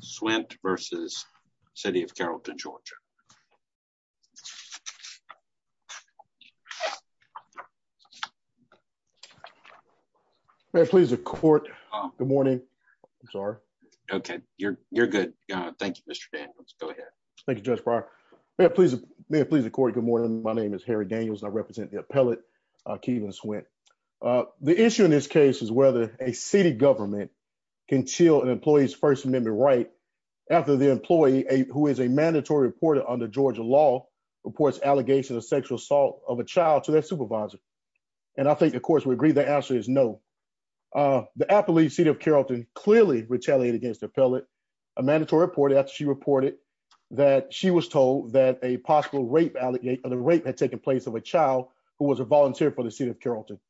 Swint versus City of Carrollton, Georgia. May I please the court? Good morning. I'm sorry. Okay, you're you're good. Thank you, Mr. Daniels. Go ahead. Thank you, Judge Breyer. May I please the court? Good morning. My name is Harry Daniels and I represent the appellate Keelan Swint. The issue in this case is whether a city government can chill an employee's First Amendment right after the employee, who is a mandatory reporter under Georgia law, reports allegations of sexual assault of a child to their supervisor. And I think, of course, we agree the answer is no. The appellate, City of Carrollton, clearly retaliated against the appellate, a mandatory report after she reported that she was told that a possible rape allegation of rape had taken place of a child who was a volunteer for the City of Carrollton.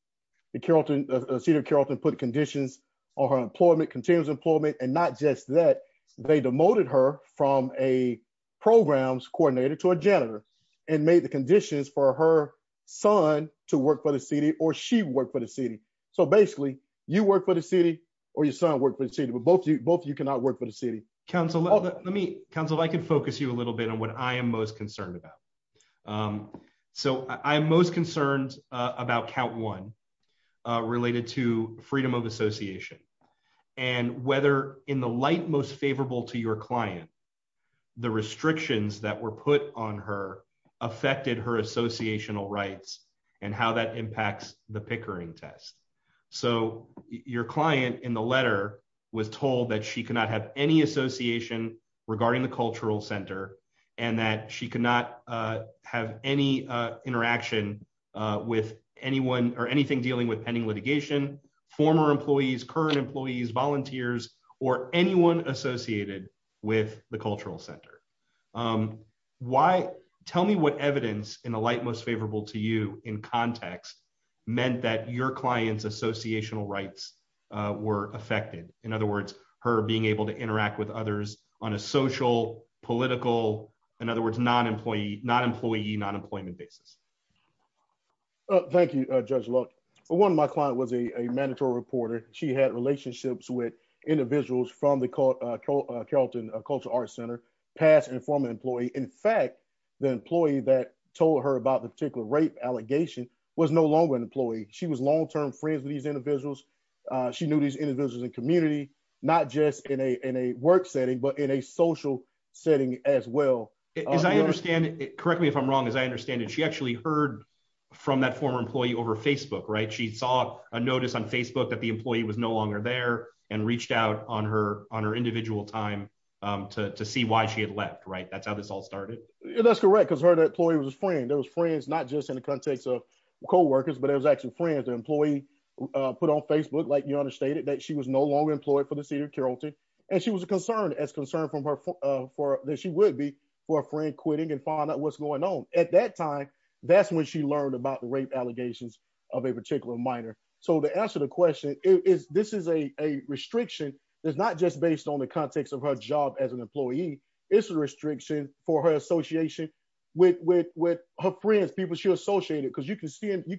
The City of Carrollton put conditions on her employment, continuous employment, and not just that, they demoted her from a programs coordinator to a janitor and made the conditions for her son to work for the city or she work for the city. So basically, you work for the city or your son work for the city, but both of you cannot work for the city. Council, if I could focus you a little bit on what I am most concerned about. So I'm most concerned about count one related to freedom of association and whether in the light most favorable to your client, the restrictions that were put on her affected her associational rights and how that impacts the Pickering test. So your client in the letter was told that she could not have any association regarding the cultural center and that she could not have any interaction with anyone or anything dealing with pending litigation, former employees, current employees, volunteers, or anyone associated with the cultural center. Why? Tell me what evidence in the light most favorable to you in context meant that your client's associational rights were affected. In other words, her being able to interact with others on a social, political, in other words, non-employee, non-employee, non-employment basis. Thank you, Judge Luck. One of my client was a mandatory reporter. She had relationships with individuals from the Carrollton Cultural Arts Center, past and former employee. In fact, the employee that told her about the particular rape allegation was no longer an employee. She was long term friends with these individuals. She knew these individuals in community, not just in a work setting, but in a social setting as well. As I understand it, correct me if I'm wrong, as I understand it, she actually heard from that former employee over Facebook, right? She saw a notice on Facebook that the employee was no longer there and reached out on her on her individual time to see why she had left, right? That's how this all started. That's correct, because her employee was a friend. There was friends, not just in the context of coworkers, but it was actually friends, an employee put on Facebook, like you understated that she was no longer employed for the concern as concerned from her for that she would be for a friend quitting and find out what's going on. At that time, that's when she learned about the rape allegations of a particular minor. So to answer the question, this is a restriction that's not just based on the context of her job as an employee, it's a restriction for her association with her friends, people she associated, because you can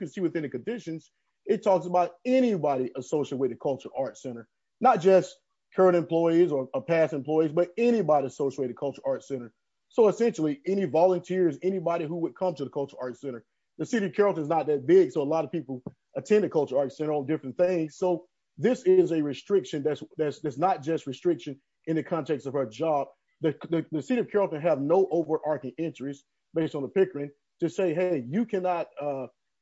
see within the conditions, it talks about anybody associated with the Cultural Arts Center, not just current employees or past employees, but anybody associated Cultural Arts Center. So essentially, any volunteers, anybody who would come to the Cultural Arts Center, the city of Carrollton is not that big. So a lot of people attend the Cultural Arts Center on different things. So this is a restriction that's that's not just restriction in the context of our job, the city of Carrollton have no overarching interest based on the Pickering to say, hey, you cannot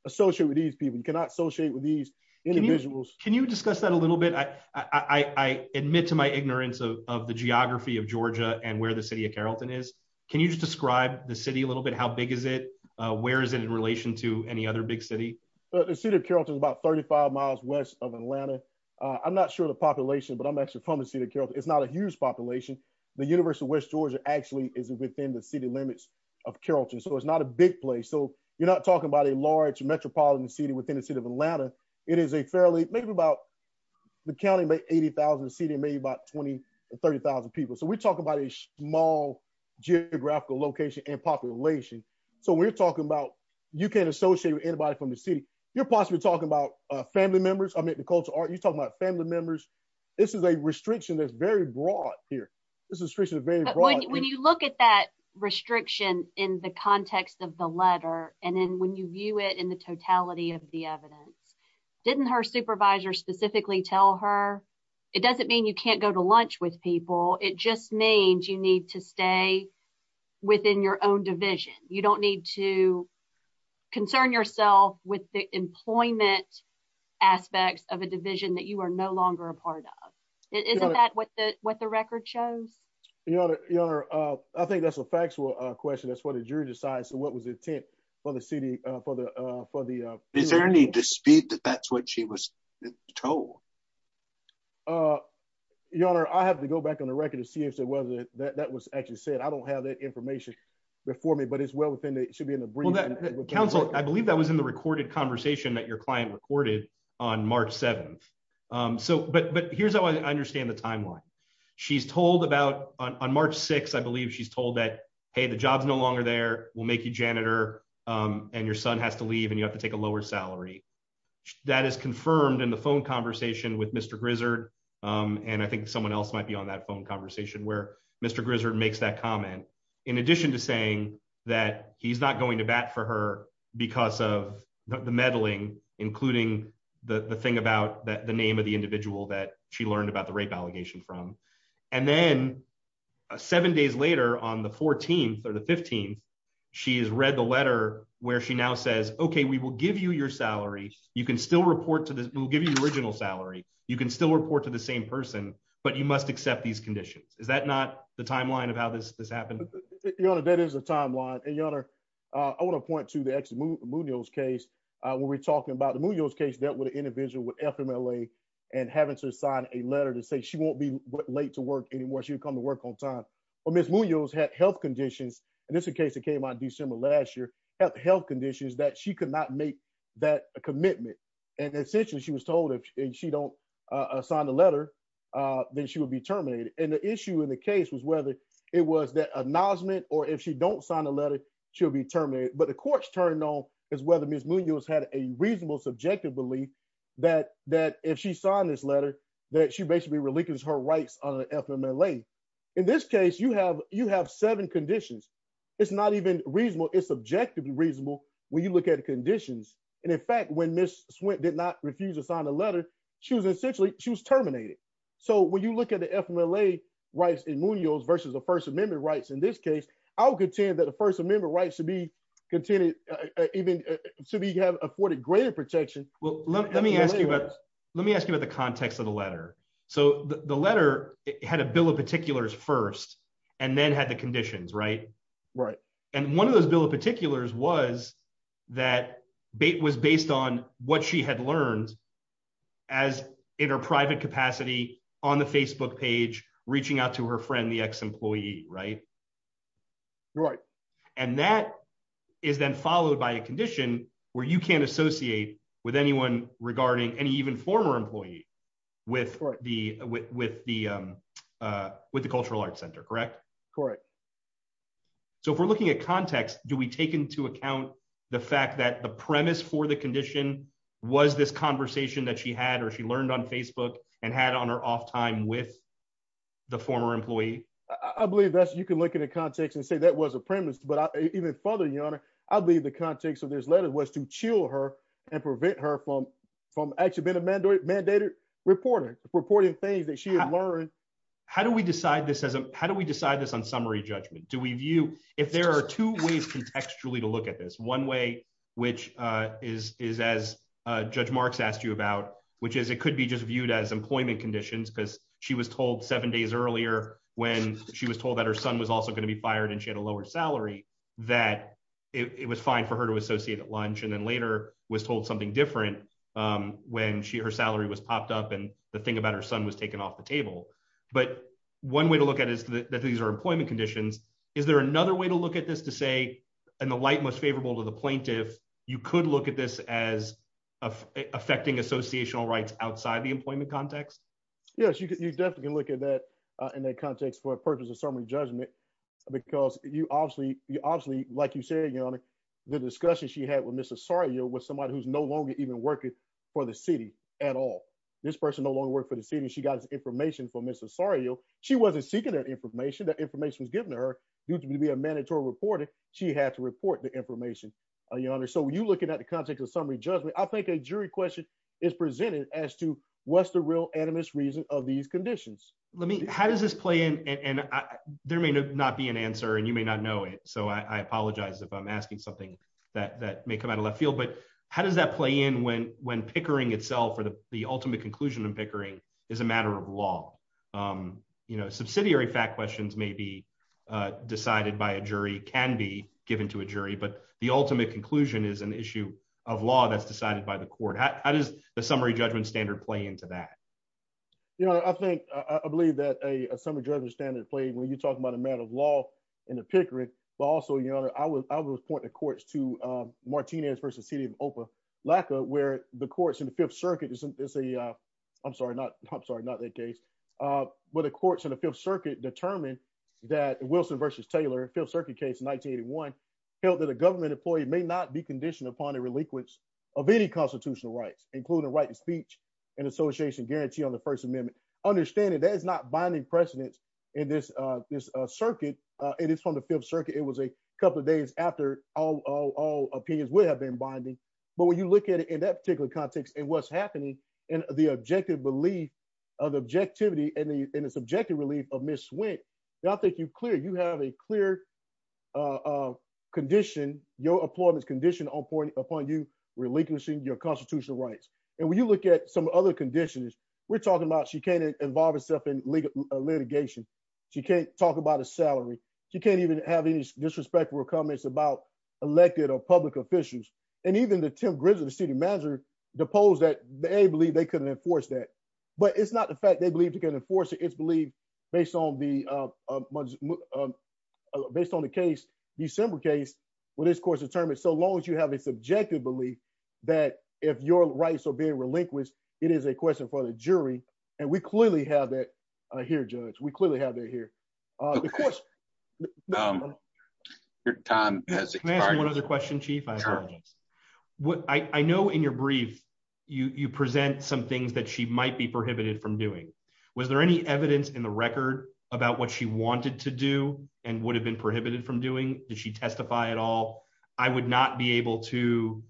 associate with these people, you cannot associate with these individuals. Can you discuss that a little bit? I admit to my ignorance of the geography of Georgia and where the city of Carrollton is. Can you just describe the city a little bit? How big is it? Where is it in relation to any other big city? The city of Carrollton is about 35 miles west of Atlanta. I'm not sure the population but I'm actually from the city of Carrollton. It's not a huge population. The University of West Georgia actually is within the city limits of Carrollton. So it's not a big place. So you're not talking about a large metropolitan city within the city of Atlanta. It is a fairly maybe about the county, maybe 80,000 seating, maybe about 20 to 30,000 people. So we're talking about a small geographical location and population. So we're talking about, you can't associate with anybody from the city, you're possibly talking about family members, I mean, the cultural art, you're talking about family members. This is a restriction that's very broad here. This is restriction is very broad. When you look at that restriction in the context of the letter, and then when you view it in the totality of the evidence, didn't her supervisor specifically tell her? It doesn't mean you can't go to lunch with people. It just means you need to stay within your own division. You don't need to concern yourself with the employment aspects of a division that you are no longer a part of. Isn't that what the what the record shows? Your Honor, I think that's a factual question. That's what the jury decides. So what was the intent for the city for the for the Is there any dispute that that's what she was told? Your Honor, I have to go back on the record to see if there was a that was actually said I don't have that information before me, but it's well within it should be in the brief. Counsel, I believe that was in the recorded conversation that your client recorded on March 7. So but but here's how I understand the timeline. She's told about on March 6, I believe she's told that, hey, the job's no longer there will make you janitor and your son has to leave and you have to take a lower salary. That is confirmed in the phone conversation with Mr. Grizzard. And I think someone else might be on that phone conversation where Mr. Grizzard makes that comment, in addition to saying that he's not going to bat for her because of the meddling, including the thing about the name of the individual that she learned about the rape allegation from. And then seven days later, on the 14th or the 15th, she has read the letter where she now says, OK, we will give you your salary. You can still report to this. We'll give you the original salary. You can still report to the same person, but you must accept these conditions. Is that not the timeline of how this happened? Your Honor, that is a timeline. And your Honor, I want to point to the ex Munoz case where we're talking about the Munoz case dealt with an individual with FMLA and having to sign a letter to say she won't be late to work anymore. She would come to work on time. But Ms. Munoz had health conditions, and this is a case that came out in December last year, health conditions that she could not make that commitment. And essentially, she was told if she don't sign the letter, then she would be terminated. And the issue in the case was whether it was that acknowledgement or if she don't sign the letter, she'll be terminated. But the court's turning on is whether Ms. Munoz had a reasonable subjective belief that if she signed this letter, that she basically relinquished her rights on FMLA. In this case, you have you have seven conditions. It's not even reasonable. It's objectively reasonable when you look at conditions. And in fact, when Ms. Swint did not refuse to sign the letter, she was essentially she was terminated. So when you look at the FMLA rights in Munoz versus the First Amendment rights in this case, I will contend that the First Amendment rights to be continued even to be afforded greater protection. Well, let me ask you about, let me ask you about the context of the letter. So the letter had a bill of particulars first, and then had the conditions, right? Right. And one of those bill of particulars was that bait was based on what she had learned as in her private capacity on the Facebook page, reaching out to her friend, the ex employee, right? Right. And that is then followed by a condition where you can't associate with anyone regarding any even former employee with the with the with the Cultural Arts Center, correct? Correct. So if we're looking at context, do we take into account the fact that the premise for the condition was this conversation that she had, or she learned on Facebook and had on her off time with the former employee? I believe that you can look at a context and say that was a premise. But even further, your honor, I believe the context of this letter was to chill her and prevent her from from actually been a mandatory mandated reporting reporting things that she had learned. How do we decide this as a how do we decide this on summary judgment? Do we view if there are two ways contextually to look at this one way, which is is as Judge Marx asked you about, which is it could be just viewed as employment conditions because she was told seven days earlier, when she was told that her and she had a lower salary, that it was fine for her to associate at lunch, and then later was told something different. When she her salary was popped up, and the thing about her son was taken off the table. But one way to look at is that these are employment conditions. Is there another way to look at this to say, and the light most favorable to the plaintiff, you could look at this as affecting associational rights outside the employment context? Yes, you can. You definitely can look at that in that context for purposes of summary judgment. Because you obviously, you obviously, like you said, your honor, the discussion she had with Mr. Sorry, you're with somebody who's no longer even working for the city at all. This person no longer work for the city. She got his information from Mr. Sorry, yo, she wasn't seeking that information. That information was given to her due to be a mandatory reporter, she had to report the information, your honor. So you looking at the context of summary judgment, I think a jury question is presented as to what's the real animus reason of these conditions? Let me how does this play in and there may not be an answer and you may not know it. So I apologize if I'm asking something that may come out of left field. But how does that play in when when Pickering itself or the ultimate conclusion and Pickering is a matter of law? You know, subsidiary fact questions may be decided by a jury can be given to a jury, but the ultimate conclusion is an issue of law that's decided by the court. How does the summary judgment standard play into that? You know, I think I believe that a summary judgment standard play when you talk about a matter of law in the Pickering, but also, you know, I was I was pointing the courts to Martinez versus city of Opa, LACA, where the courts in the Fifth Circuit is a I'm sorry, not I'm sorry, not that case. But the courts in the Fifth Circuit determined that Wilson versus Taylor Fifth Circuit case in 1981 held that a government employee may not be conditioned upon a relinquish of any constitutional rights, including right of speech and association guarantee on the First Amendment. Understanding that is not binding precedence in this, this circuit. It is from the Fifth Circuit, it was a couple of days after all opinions would have been binding. But when you look at it in that particular context, and what's happening, and the objective belief of objectivity and the subjective relief of Ms. Swick, not that you clear you have a clear condition, your appointments condition on point upon you relinquishing your constitutional rights. And when you look at some other conditions, we're talking about she can't involve herself in legal litigation. She can't talk about a salary. She can't even have any disrespectful comments about elected or public officials. And even the Tim grizzly, the city manager, the polls that they believe they couldn't enforce that. But it's not the fact they believe you can enforce it. It's believed, based on the based on the case, December case, what is course determined so long as you have a subjective belief that if your rights are being relinquished, it is a question for the jury. And we clearly have it here, judge, we clearly have it here. Your time has one other question, chief. What I know in your brief, you present some things that she might be prohibited from doing. Was there any evidence in the record about what she wanted to do, and would have been prohibited from doing? Did she testify at all? I would not be able to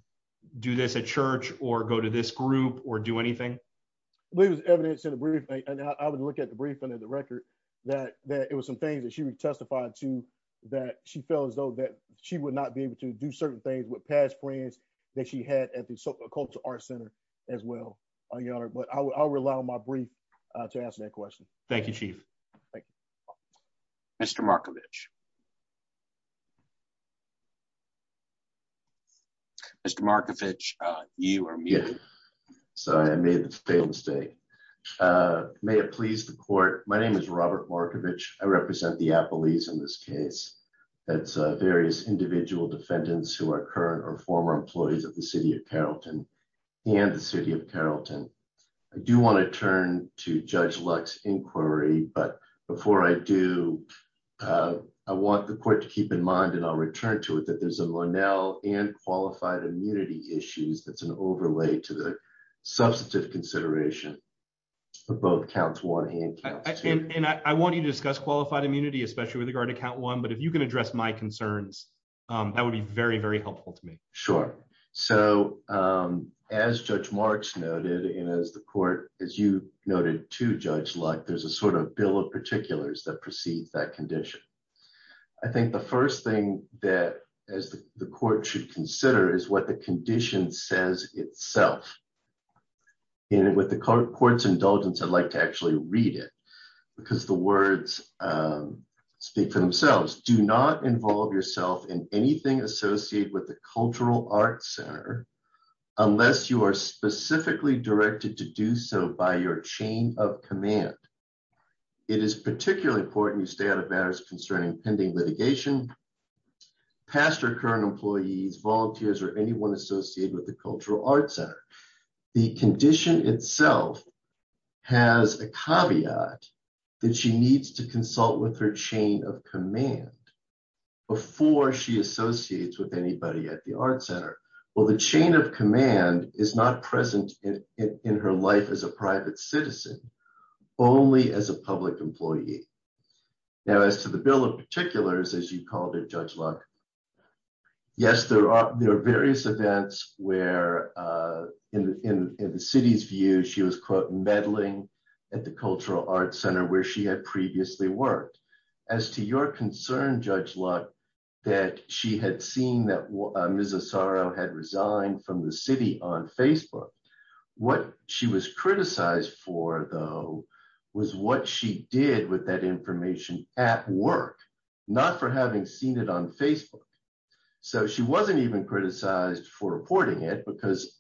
do this at church or go to this group or do anything. It was evidence in the brief, and I would look at the briefing of the record that that it was some things that she would testify to that she felt as though that she would not be able to do certain things with past friends that she had at the cultural arts center as well on your honor. But I'll rely on my brief to ask that question. Thank you, Chief. Thank you, Mr Markovich. Yeah, Mr Markovich, you are muted. So I made the same mistake. Uh, may it please the court. My name is Robert Markovich. I represent the Apple ease in this case. That's various individual defendants who are current or former employees of the city of Carrollton and the city of Carrollton. I do want to turn to Judge Lux inquiry. But before I do, uh, I want the court to keep in mind, and I'll return to it that there's a more now and qualified immunity issues. That's an overlay to the substantive consideration of both counts. One hand, and I want to discuss qualified immunity, especially with regard to count one. But if you can address my concerns, that would be very, very helpful to me. Sure. So, um, as Judge Marks noted, and as the court, as you noted to Judge Luck, there's a sort of bill of particulars that precedes that condition. I think the first thing that as the court should consider is what the condition says itself. And with the court's indulgence, I'd like to actually read it because the words, um, speak for themselves. Do not involve yourself in anything associated with the cultural arts center unless you are specifically directed to do so by your chain of command. It is particularly important. You stay out of matters concerning pending litigation, pastor, current employees, volunteers or anyone associated with the cultural arts center. The condition itself has a caveat that she needs to consult with her chain of command before she associates with anybody at the art center. Well, the chain of command is not present in her life as a private citizen, only as a public employee. Now, as to the bill of particulars, as you called it, Judge Luck, yes, there are various events where, uh, in the city's view, she was quote meddling at the cultural arts center where she had previously worked. As to your concern, Judge Luck, that she had seen that Mrs. Asaro had resigned from the city on Facebook. What she was criticized for, though, was what she did with that information at work, not for having seen it on Facebook. So she wasn't even criticized for reporting it because,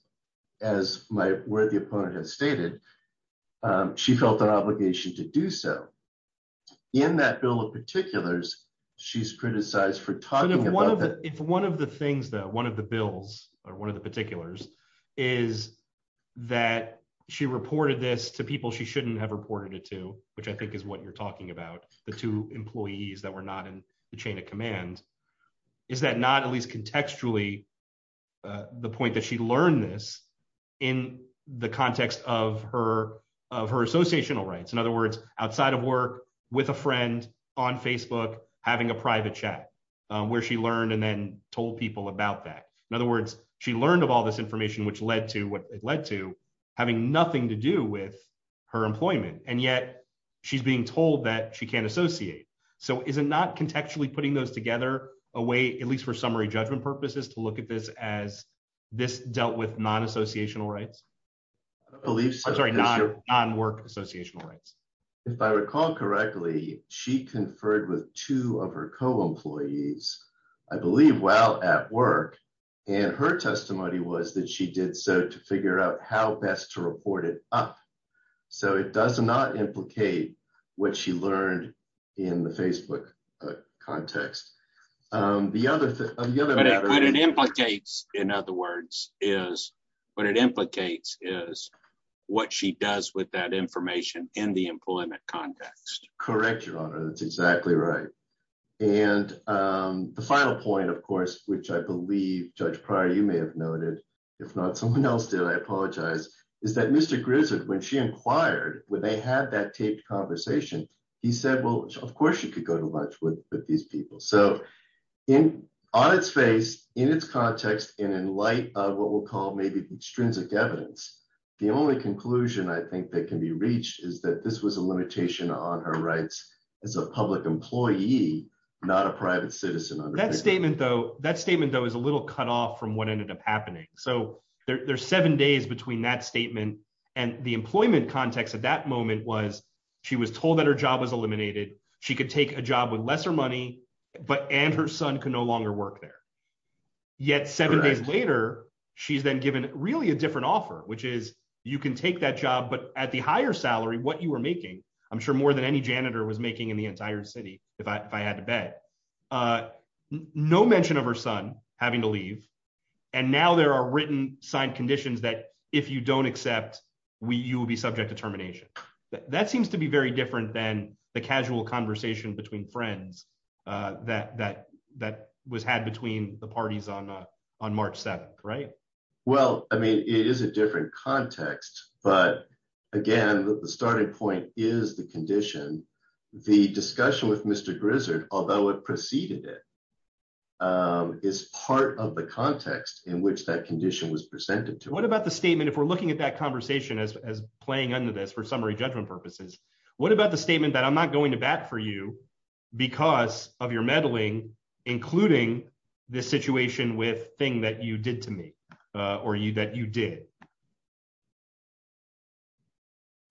as my worthy opponent has stated, she felt an obligation to do so. In that bill of particulars, she's criticized for talking about it. If one of the things that one of the bills or the particulars is that she reported this to people she shouldn't have reported it to, which I think is what you're talking about, the two employees that were not in the chain of command, is that not at least contextually the point that she learned this in the context of her of her associational rights? In other words, outside of work, with a friend on Facebook, having a private chat where she learned and then told people about that. In other words, she learned of all this information, which led to what it led to, having nothing to do with her employment. And yet she's being told that she can't associate. So is it not contextually putting those together away, at least for summary judgment purposes, to look at this as this dealt with non associational rights? I believe so. Sorry, non work associational rights. If I recall correctly, she conferred with two of her co employees, I believe, while at work. And her testimony was that she did so to figure out how best to report it up. So it does not implicate what she learned in the Facebook context. The other thing that it implicates, in other words, is what it implicates is what she does with that information in the employment context. Correct, Your Honor, that's exactly right. And the final point, of course, which I believe, Judge Pryor, you may have noted, if not someone else did, I apologize, is that Mr. Grizzard, when she inquired, when they had that taped conversation, he said, well, of course, you could go to lunch with these people. So in on its face, in its context, and in light of what we'll call maybe extrinsic evidence, the only conclusion I think that can be reached is that this was a limitation on her rights as a public employee, not a private citizen. That statement, though, that statement, though, is a little cut off from what ended up happening. So there's seven days between that statement, and the employment context at that moment was, she was told that her job was eliminated, she could take a job with lesser money, but and her son can no longer work there. Yet, seven days later, she's then given really a higher salary, what you were making, I'm sure more than any janitor was making in the entire city, if I had to bet. No mention of her son having to leave. And now there are written signed conditions that if you don't accept, we you will be subject to termination. That seems to be very different than the casual conversation between friends that that that was had between the parties on on March 7, right? Well, I mean, it is a different context. But again, the starting point is the condition. The discussion with Mr. Grizzard, although it preceded it, is part of the context in which that condition was presented to what about the statement, if we're looking at that conversation as playing under this for summary judgment purposes? What about the statement that I'm not going to bat for you, because of your meddling, including this situation with thing that you did to me? Or you that you did?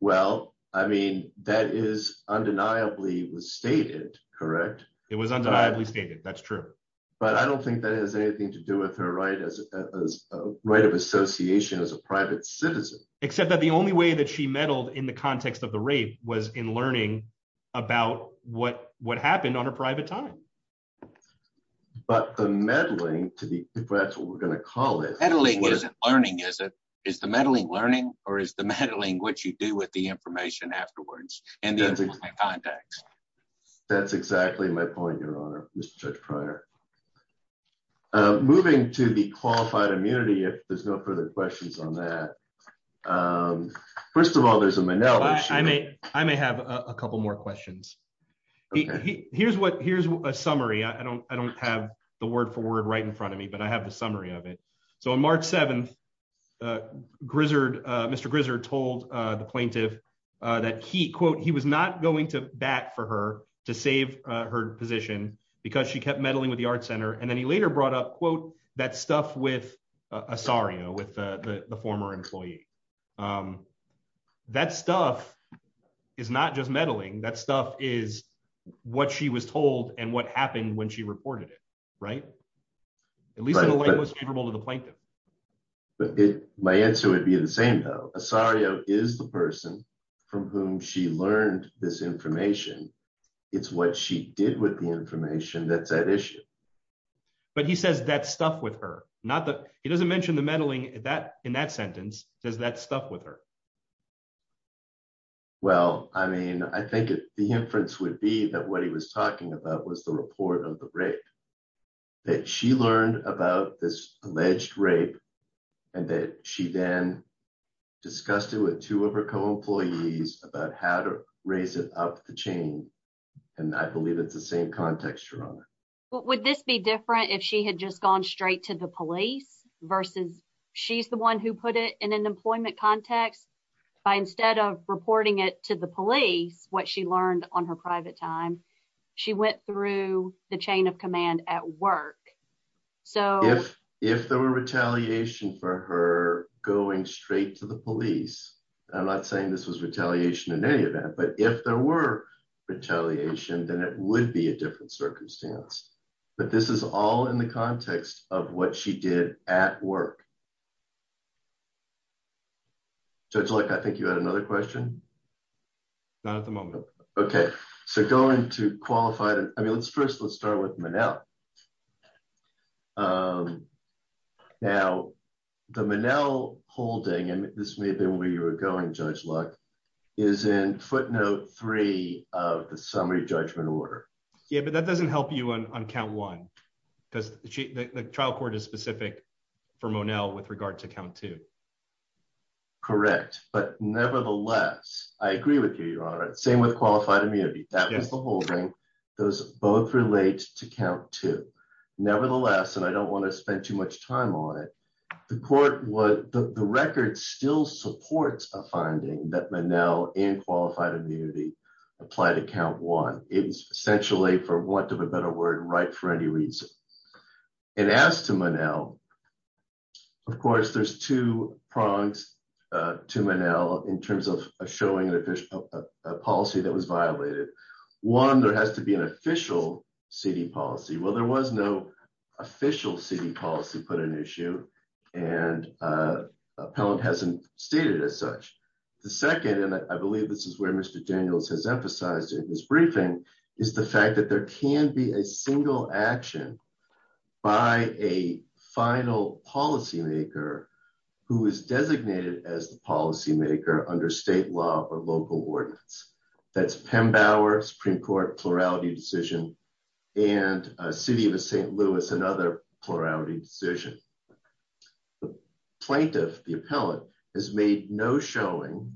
Well, I mean, that is undeniably was stated, correct? It was undeniably stated. That's true. But I don't think that has anything to do with her right as a right of association as a private citizen, except that the only way that she meddled in the context of the rape was in learning about what what happened on a private time. But the meddling to the that's what we're gonna call it meddling isn't learning is it is the meddling learning or is the meddling what you do with the information afterwards and the contacts? That's exactly my point. Your honor, Mr. Judge prior moving to the qualified immunity. If there's no further questions on that, um, first of all, there's a manel. I may I may have a couple more questions. Here's what Here's a summary. I don't I don't have the word for word right in front of me, but I have the summary of it. So on March 7th, uh, Grizzard, Mr. Grizzard told the plaintiff that he quote he was not going to bat for her to save her position because she kept meddling with the art center. And then he later brought up quote that stuff with a sorry with the former employee. Um, that stuff is not just meddling. That stuff is what she was told and what happened when she reported it, right? At least I was favorable to the plaintiff. But my answer would be the same, though. Sorry, is the person from whom she learned this information. It's what she did with the information. That's that issue. But he says that stuff with her. Not that he doesn't mention the meddling that in that sentence, does that stuff with her? Well, I mean, I think the inference would be that what he was talking about was the report of the rape that she learned about this alleged rape and that she then discussed it with two of her co employees about how to raise it up the chain. And I believe it's the same context. You're on it. Would this be different if she had just gone straight to the police versus she's the one who put it in an employment context by instead of reporting it to the police what she learned on her private time. She went through the chain of command at work. So if if there were retaliation for her going straight to the police, I'm not saying this was retaliation in any of that. But if there were retaliation, then it would be a different circumstance. But this is all in the context of what she did at work. Judge like, I think you had another question. Not at the moment. Okay, so going to qualify. I mean, let's first let's start with Manel. Um, now the Manel holding and this may have been where you were going. Judge Luck is in footnote three of the summary judgment order. Yeah, but that because the trial court is specific for Manel with regard to count to correct. But nevertheless, I agree with you, Your Honor. Same with qualified immunity. That was the whole thing. Those both relate to count to. Nevertheless, and I don't want to spend too much time on it. The court was the record still supports a finding that Manel in qualified immunity applied account one. It was essentially for want of a better word, right for any reason. And as to Manel, of course, there's two prongs to Manel in terms of showing an official policy that was violated. One, there has to be an official city policy. Well, there was no official city policy put an issue and, uh, appellant hasn't stated as such. The second, and I believe this is where Mr Daniels has emphasized in his briefing is the fact that there can be a single action by a final policy maker who is designated as the policymaker under state law or local ordinance. That's Pembower Supreme Court plurality decision and a city of ST plurality decision. The plaintiff, the appellant has made no showing.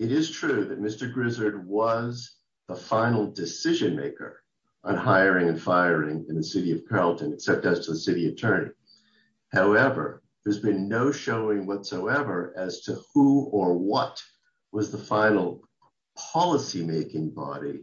It is true that Mr Grizzard was the final decision maker on hiring and firing in the city of Carrollton, except as to the city attorney. However, there's been no showing whatsoever as to who or what was the final policymaking body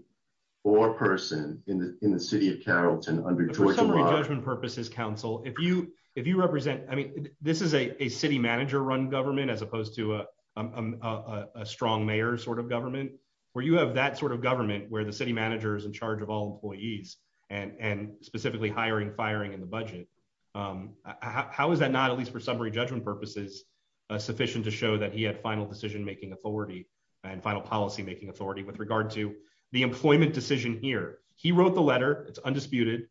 or person in the city of Carrollton for summary judgment purposes. Council, if you, if you represent, I mean, this is a city manager run government as opposed to a strong mayor sort of government where you have that sort of government where the city manager is in charge of all employees and specifically hiring, firing in the budget. How is that not, at least for summary judgment purposes, sufficient to show that he had final decision making authority and final policymaking authority with regard to the employment decision here? He wrote the letter. It's undisputed.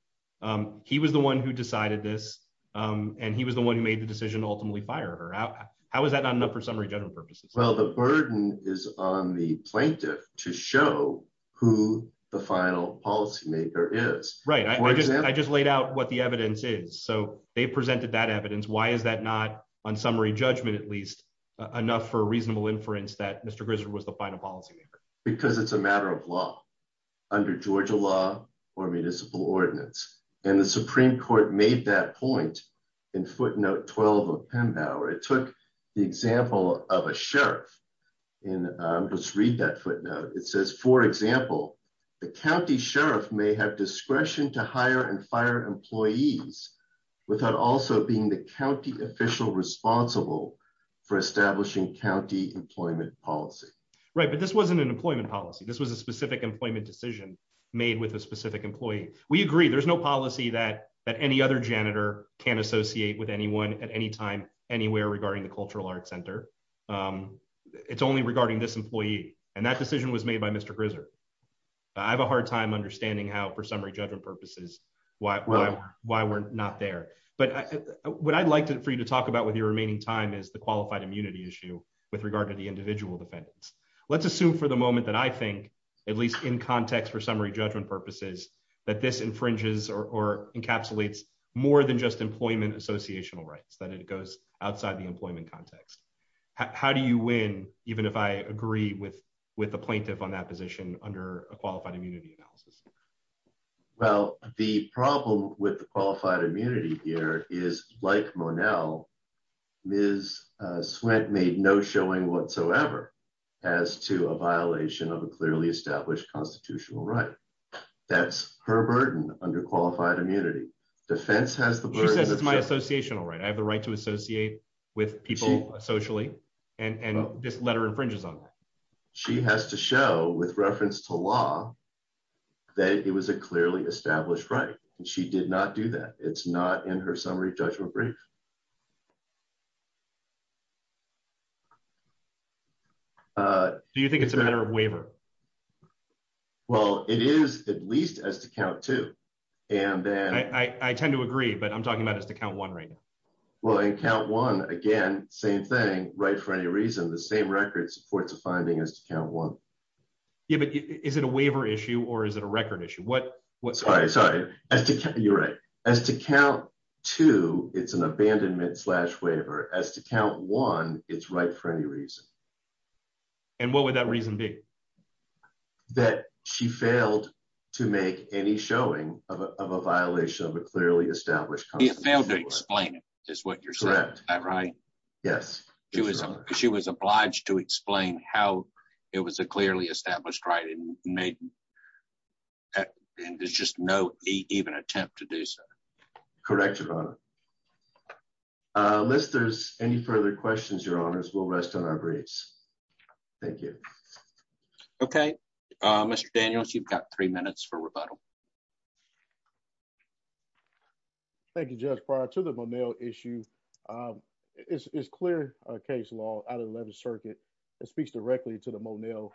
He was the one who decided this. And he was the one who made the decision to ultimately fire her out. How is that not enough for summary general purposes? Well, the burden is on the plaintiff to show who the final policymaker is. Right. I just, I just laid out what the evidence is. So they presented that evidence. Why is that not on summary judgment, at least enough for reasonable inference that Mr. Grizzard was the final policymaker? Because it's a matter of law under Georgia law or municipal ordinance. And the Supreme Court made that point in footnote 12 of Pembauer. It took the example of a sheriff in, let's read that footnote. It says, for example, the county sheriff may have discretion to hire and fire employees without also being the county official responsible for establishing county employment policy. Right. But this wasn't an employment policy. This was a specific employment decision made with a specific employee. We agree. There's no policy that any other janitor can associate with anyone at any time, anywhere regarding the Cultural Arts Center. It's only regarding this employee. And that decision was made by Mr. Grizzard. I have a hard time understanding how for summary judgment purposes, why we're not there. But what I'd like for you to talk about with your remaining time is the qualified immunity issue with regard to the let's assume for the moment that I think, at least in context for summary judgment purposes, that this infringes or encapsulates more than just employment associational rights, that it goes outside the employment context. How do you win, even if I agree with with the plaintiff on that position under a qualified immunity analysis? Well, the problem with the qualified immunity is that it goes outside the employment context as to a violation of a clearly established constitutional right. That's her burden under qualified immunity. Defense has the burden. She says it's my associational right. I have the right to associate with people socially. And this letter infringes on that. She has to show with reference to law that it was a clearly established right. And she did not do that. It's not in her summary judgment brief. Uh, do you think it's a matter of waiver? Well, it is at least as to count two. And then I tend to agree, but I'm talking about as to count one right now. Well, in count one again, same thing, right? For any reason, the same record supports a finding as to count one. Yeah, but is it a waiver issue or is it a record issue? What? What? Sorry. Sorry. As you're right as to count two, it's an abandonment slash waiver as to count one. It's right for any reason. And what would that reason be that she failed to make any showing of a violation of a clearly established failed to explain it is what you're saying, right? Yes, she was. She was obliged to explain how it was a clearly attempt to do so. Correct. Your honor. Uh, list. There's any further questions. Your honors will rest on our braids. Thank you. Okay, Mr Daniels. You've got three minutes for rebuttal. Thank you. Just prior to the male issue. Um, it's clear case law out of the 11th Circuit. It speaks directly to the Monell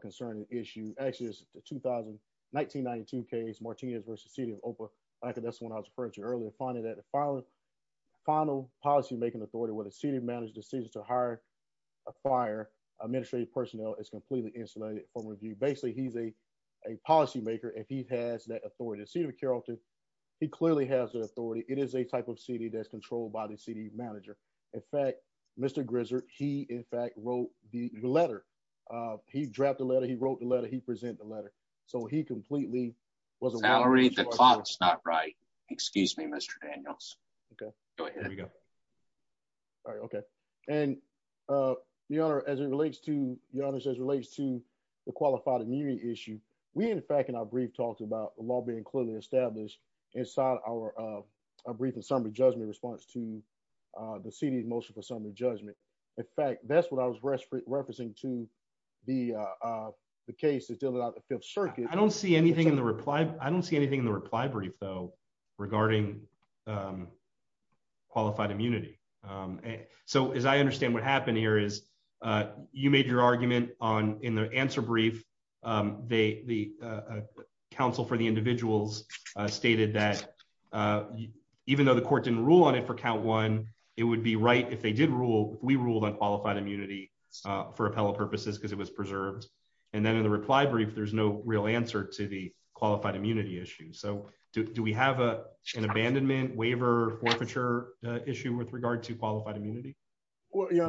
concerning issue. Actually, 2000 1992 case Martinez versus City of Opa. I think that's when I was referring to earlier, finding that the final final policymaking authority with a city managed decision to hire a fire administrative personnel is completely insulated from review. Basically, he's a policymaker. If he has that authority to see the Carrollton, he clearly has the authority. It is a type of city that's controlled by the city manager. In fact, Mr Grizzard, he in fact wrote the letter. He dropped the letter. He wrote the letter. He present the letter. So he completely was a salary. That's not right. Excuse me, Mr Daniels. Okay, go ahead. We go. All right. Okay. And, uh, your honor, as it relates to, your honor says relates to the qualified immunity issue. We, in fact, in our brief talked about law being clearly established inside our, uh, brief and summary judgment response to, uh, the city's motion for summary judgment. In fact, that's what I was referencing to the, uh, the case is still about the Fifth Circuit. I don't see anything in the reply. I don't see anything in the reply brief, though, regarding, um, qualified immunity. Um, so as I understand what happened here is, uh, you made your argument on in the answer brief. Um, they, the, uh, counsel for the individuals stated that, uh, even though the court didn't rule on it for count one, it would be right if they did rule, we ruled on qualified immunity, uh, for appellate purposes because it was preserved. And then in the reply brief, there's no real answer to the qualified immunity issue. So do we have a, an abandonment waiver forfeiture issue with regard to qualified immunity? Well, yeah,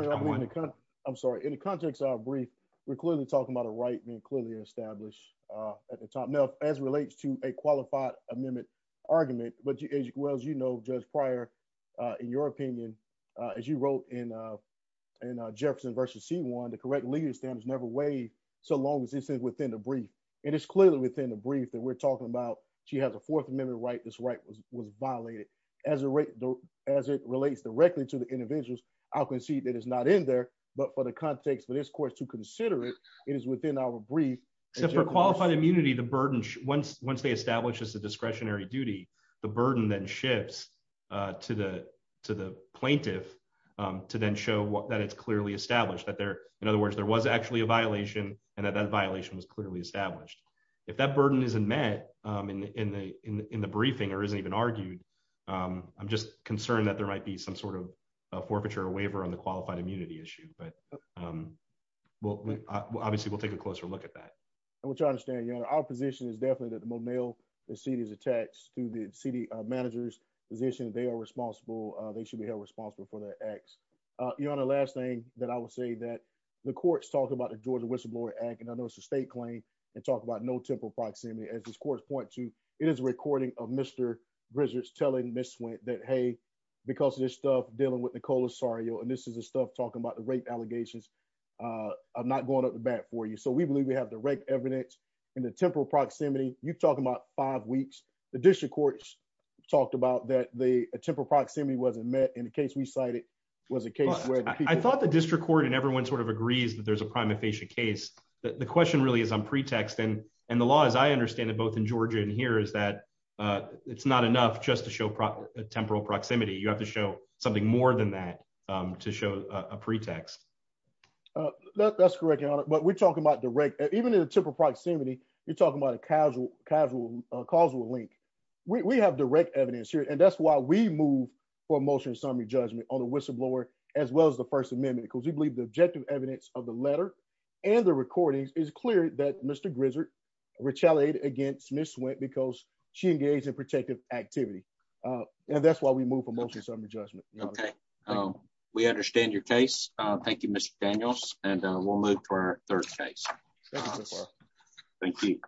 I'm sorry. In the context of our brief, we're clearly talking about a right being clearly established, uh, at the top now as relates to a qualified amendment argument. But as well as you know, Judge Prior, uh, in your opinion, uh, as you wrote in, uh, in, uh, Jefferson versus C1, the correct legal standards never weighed so long as this is within the brief. And it's clearly within the brief that we're talking about. She has a fourth amendment right. This right was, was violated as a rate, as it relates directly to the individuals. I'll concede that it's not in there, but for the context of this course to consider it, it is within our brief. So for qualified immunity, the burden, once, once they establish as a the burden then shifts, uh, to the, to the plaintiff, um, to then show that it's clearly established that there, in other words, there was actually a violation and that that violation was clearly established. If that burden isn't met, um, in, in the, in, in the briefing or isn't even argued, um, I'm just concerned that there might be some sort of a forfeiture waiver on the qualified immunity issue, but, um, well, obviously we'll take a closer look at that. And we'll try to understand, you know, our position is definitely that the tax through the city manager's position, they are responsible. Uh, they should be held responsible for their acts. Uh, you're on the last thing that I would say that the courts talk about the Georgia whistleblower act, and I know it's a state claim and talk about no temporal proximity as this course point to, it is a recording of Mr. Bridges telling Ms. Swint that, Hey, because of this stuff, dealing with the Colasario, and this is the stuff talking about the rape allegations, uh, I'm not going up the bat for you. So we believe we have the right evidence in the temporal proximity. You talk about five weeks, the district courts talked about that. The temporal proximity wasn't met in the case. We cited was a case where I thought the district court and everyone sort of agrees that there's a prima facie case. The question really is on pretext. And the law, as I understand it, both in Georgia and here is that, uh, it's not enough just to show proper temporal proximity. You have to show something more than that, um, to show a pretext. That's correct. But we're talking about direct, even in a simple proximity, you're talking about a casual, casual, causal link. We have direct evidence here, and that's why we move for motion summary judgment on the whistleblower, as well as the first amendment, because we believe the objective evidence of the letter and the recordings is clear that Mr Grizzard retaliated against Miss Swint because she engaged in protective activity. Uh, and that's why we move for motion summary judgment. Okay, we understand your case. Thank you, Mr Daniels, and we'll move to our third case. Thank you.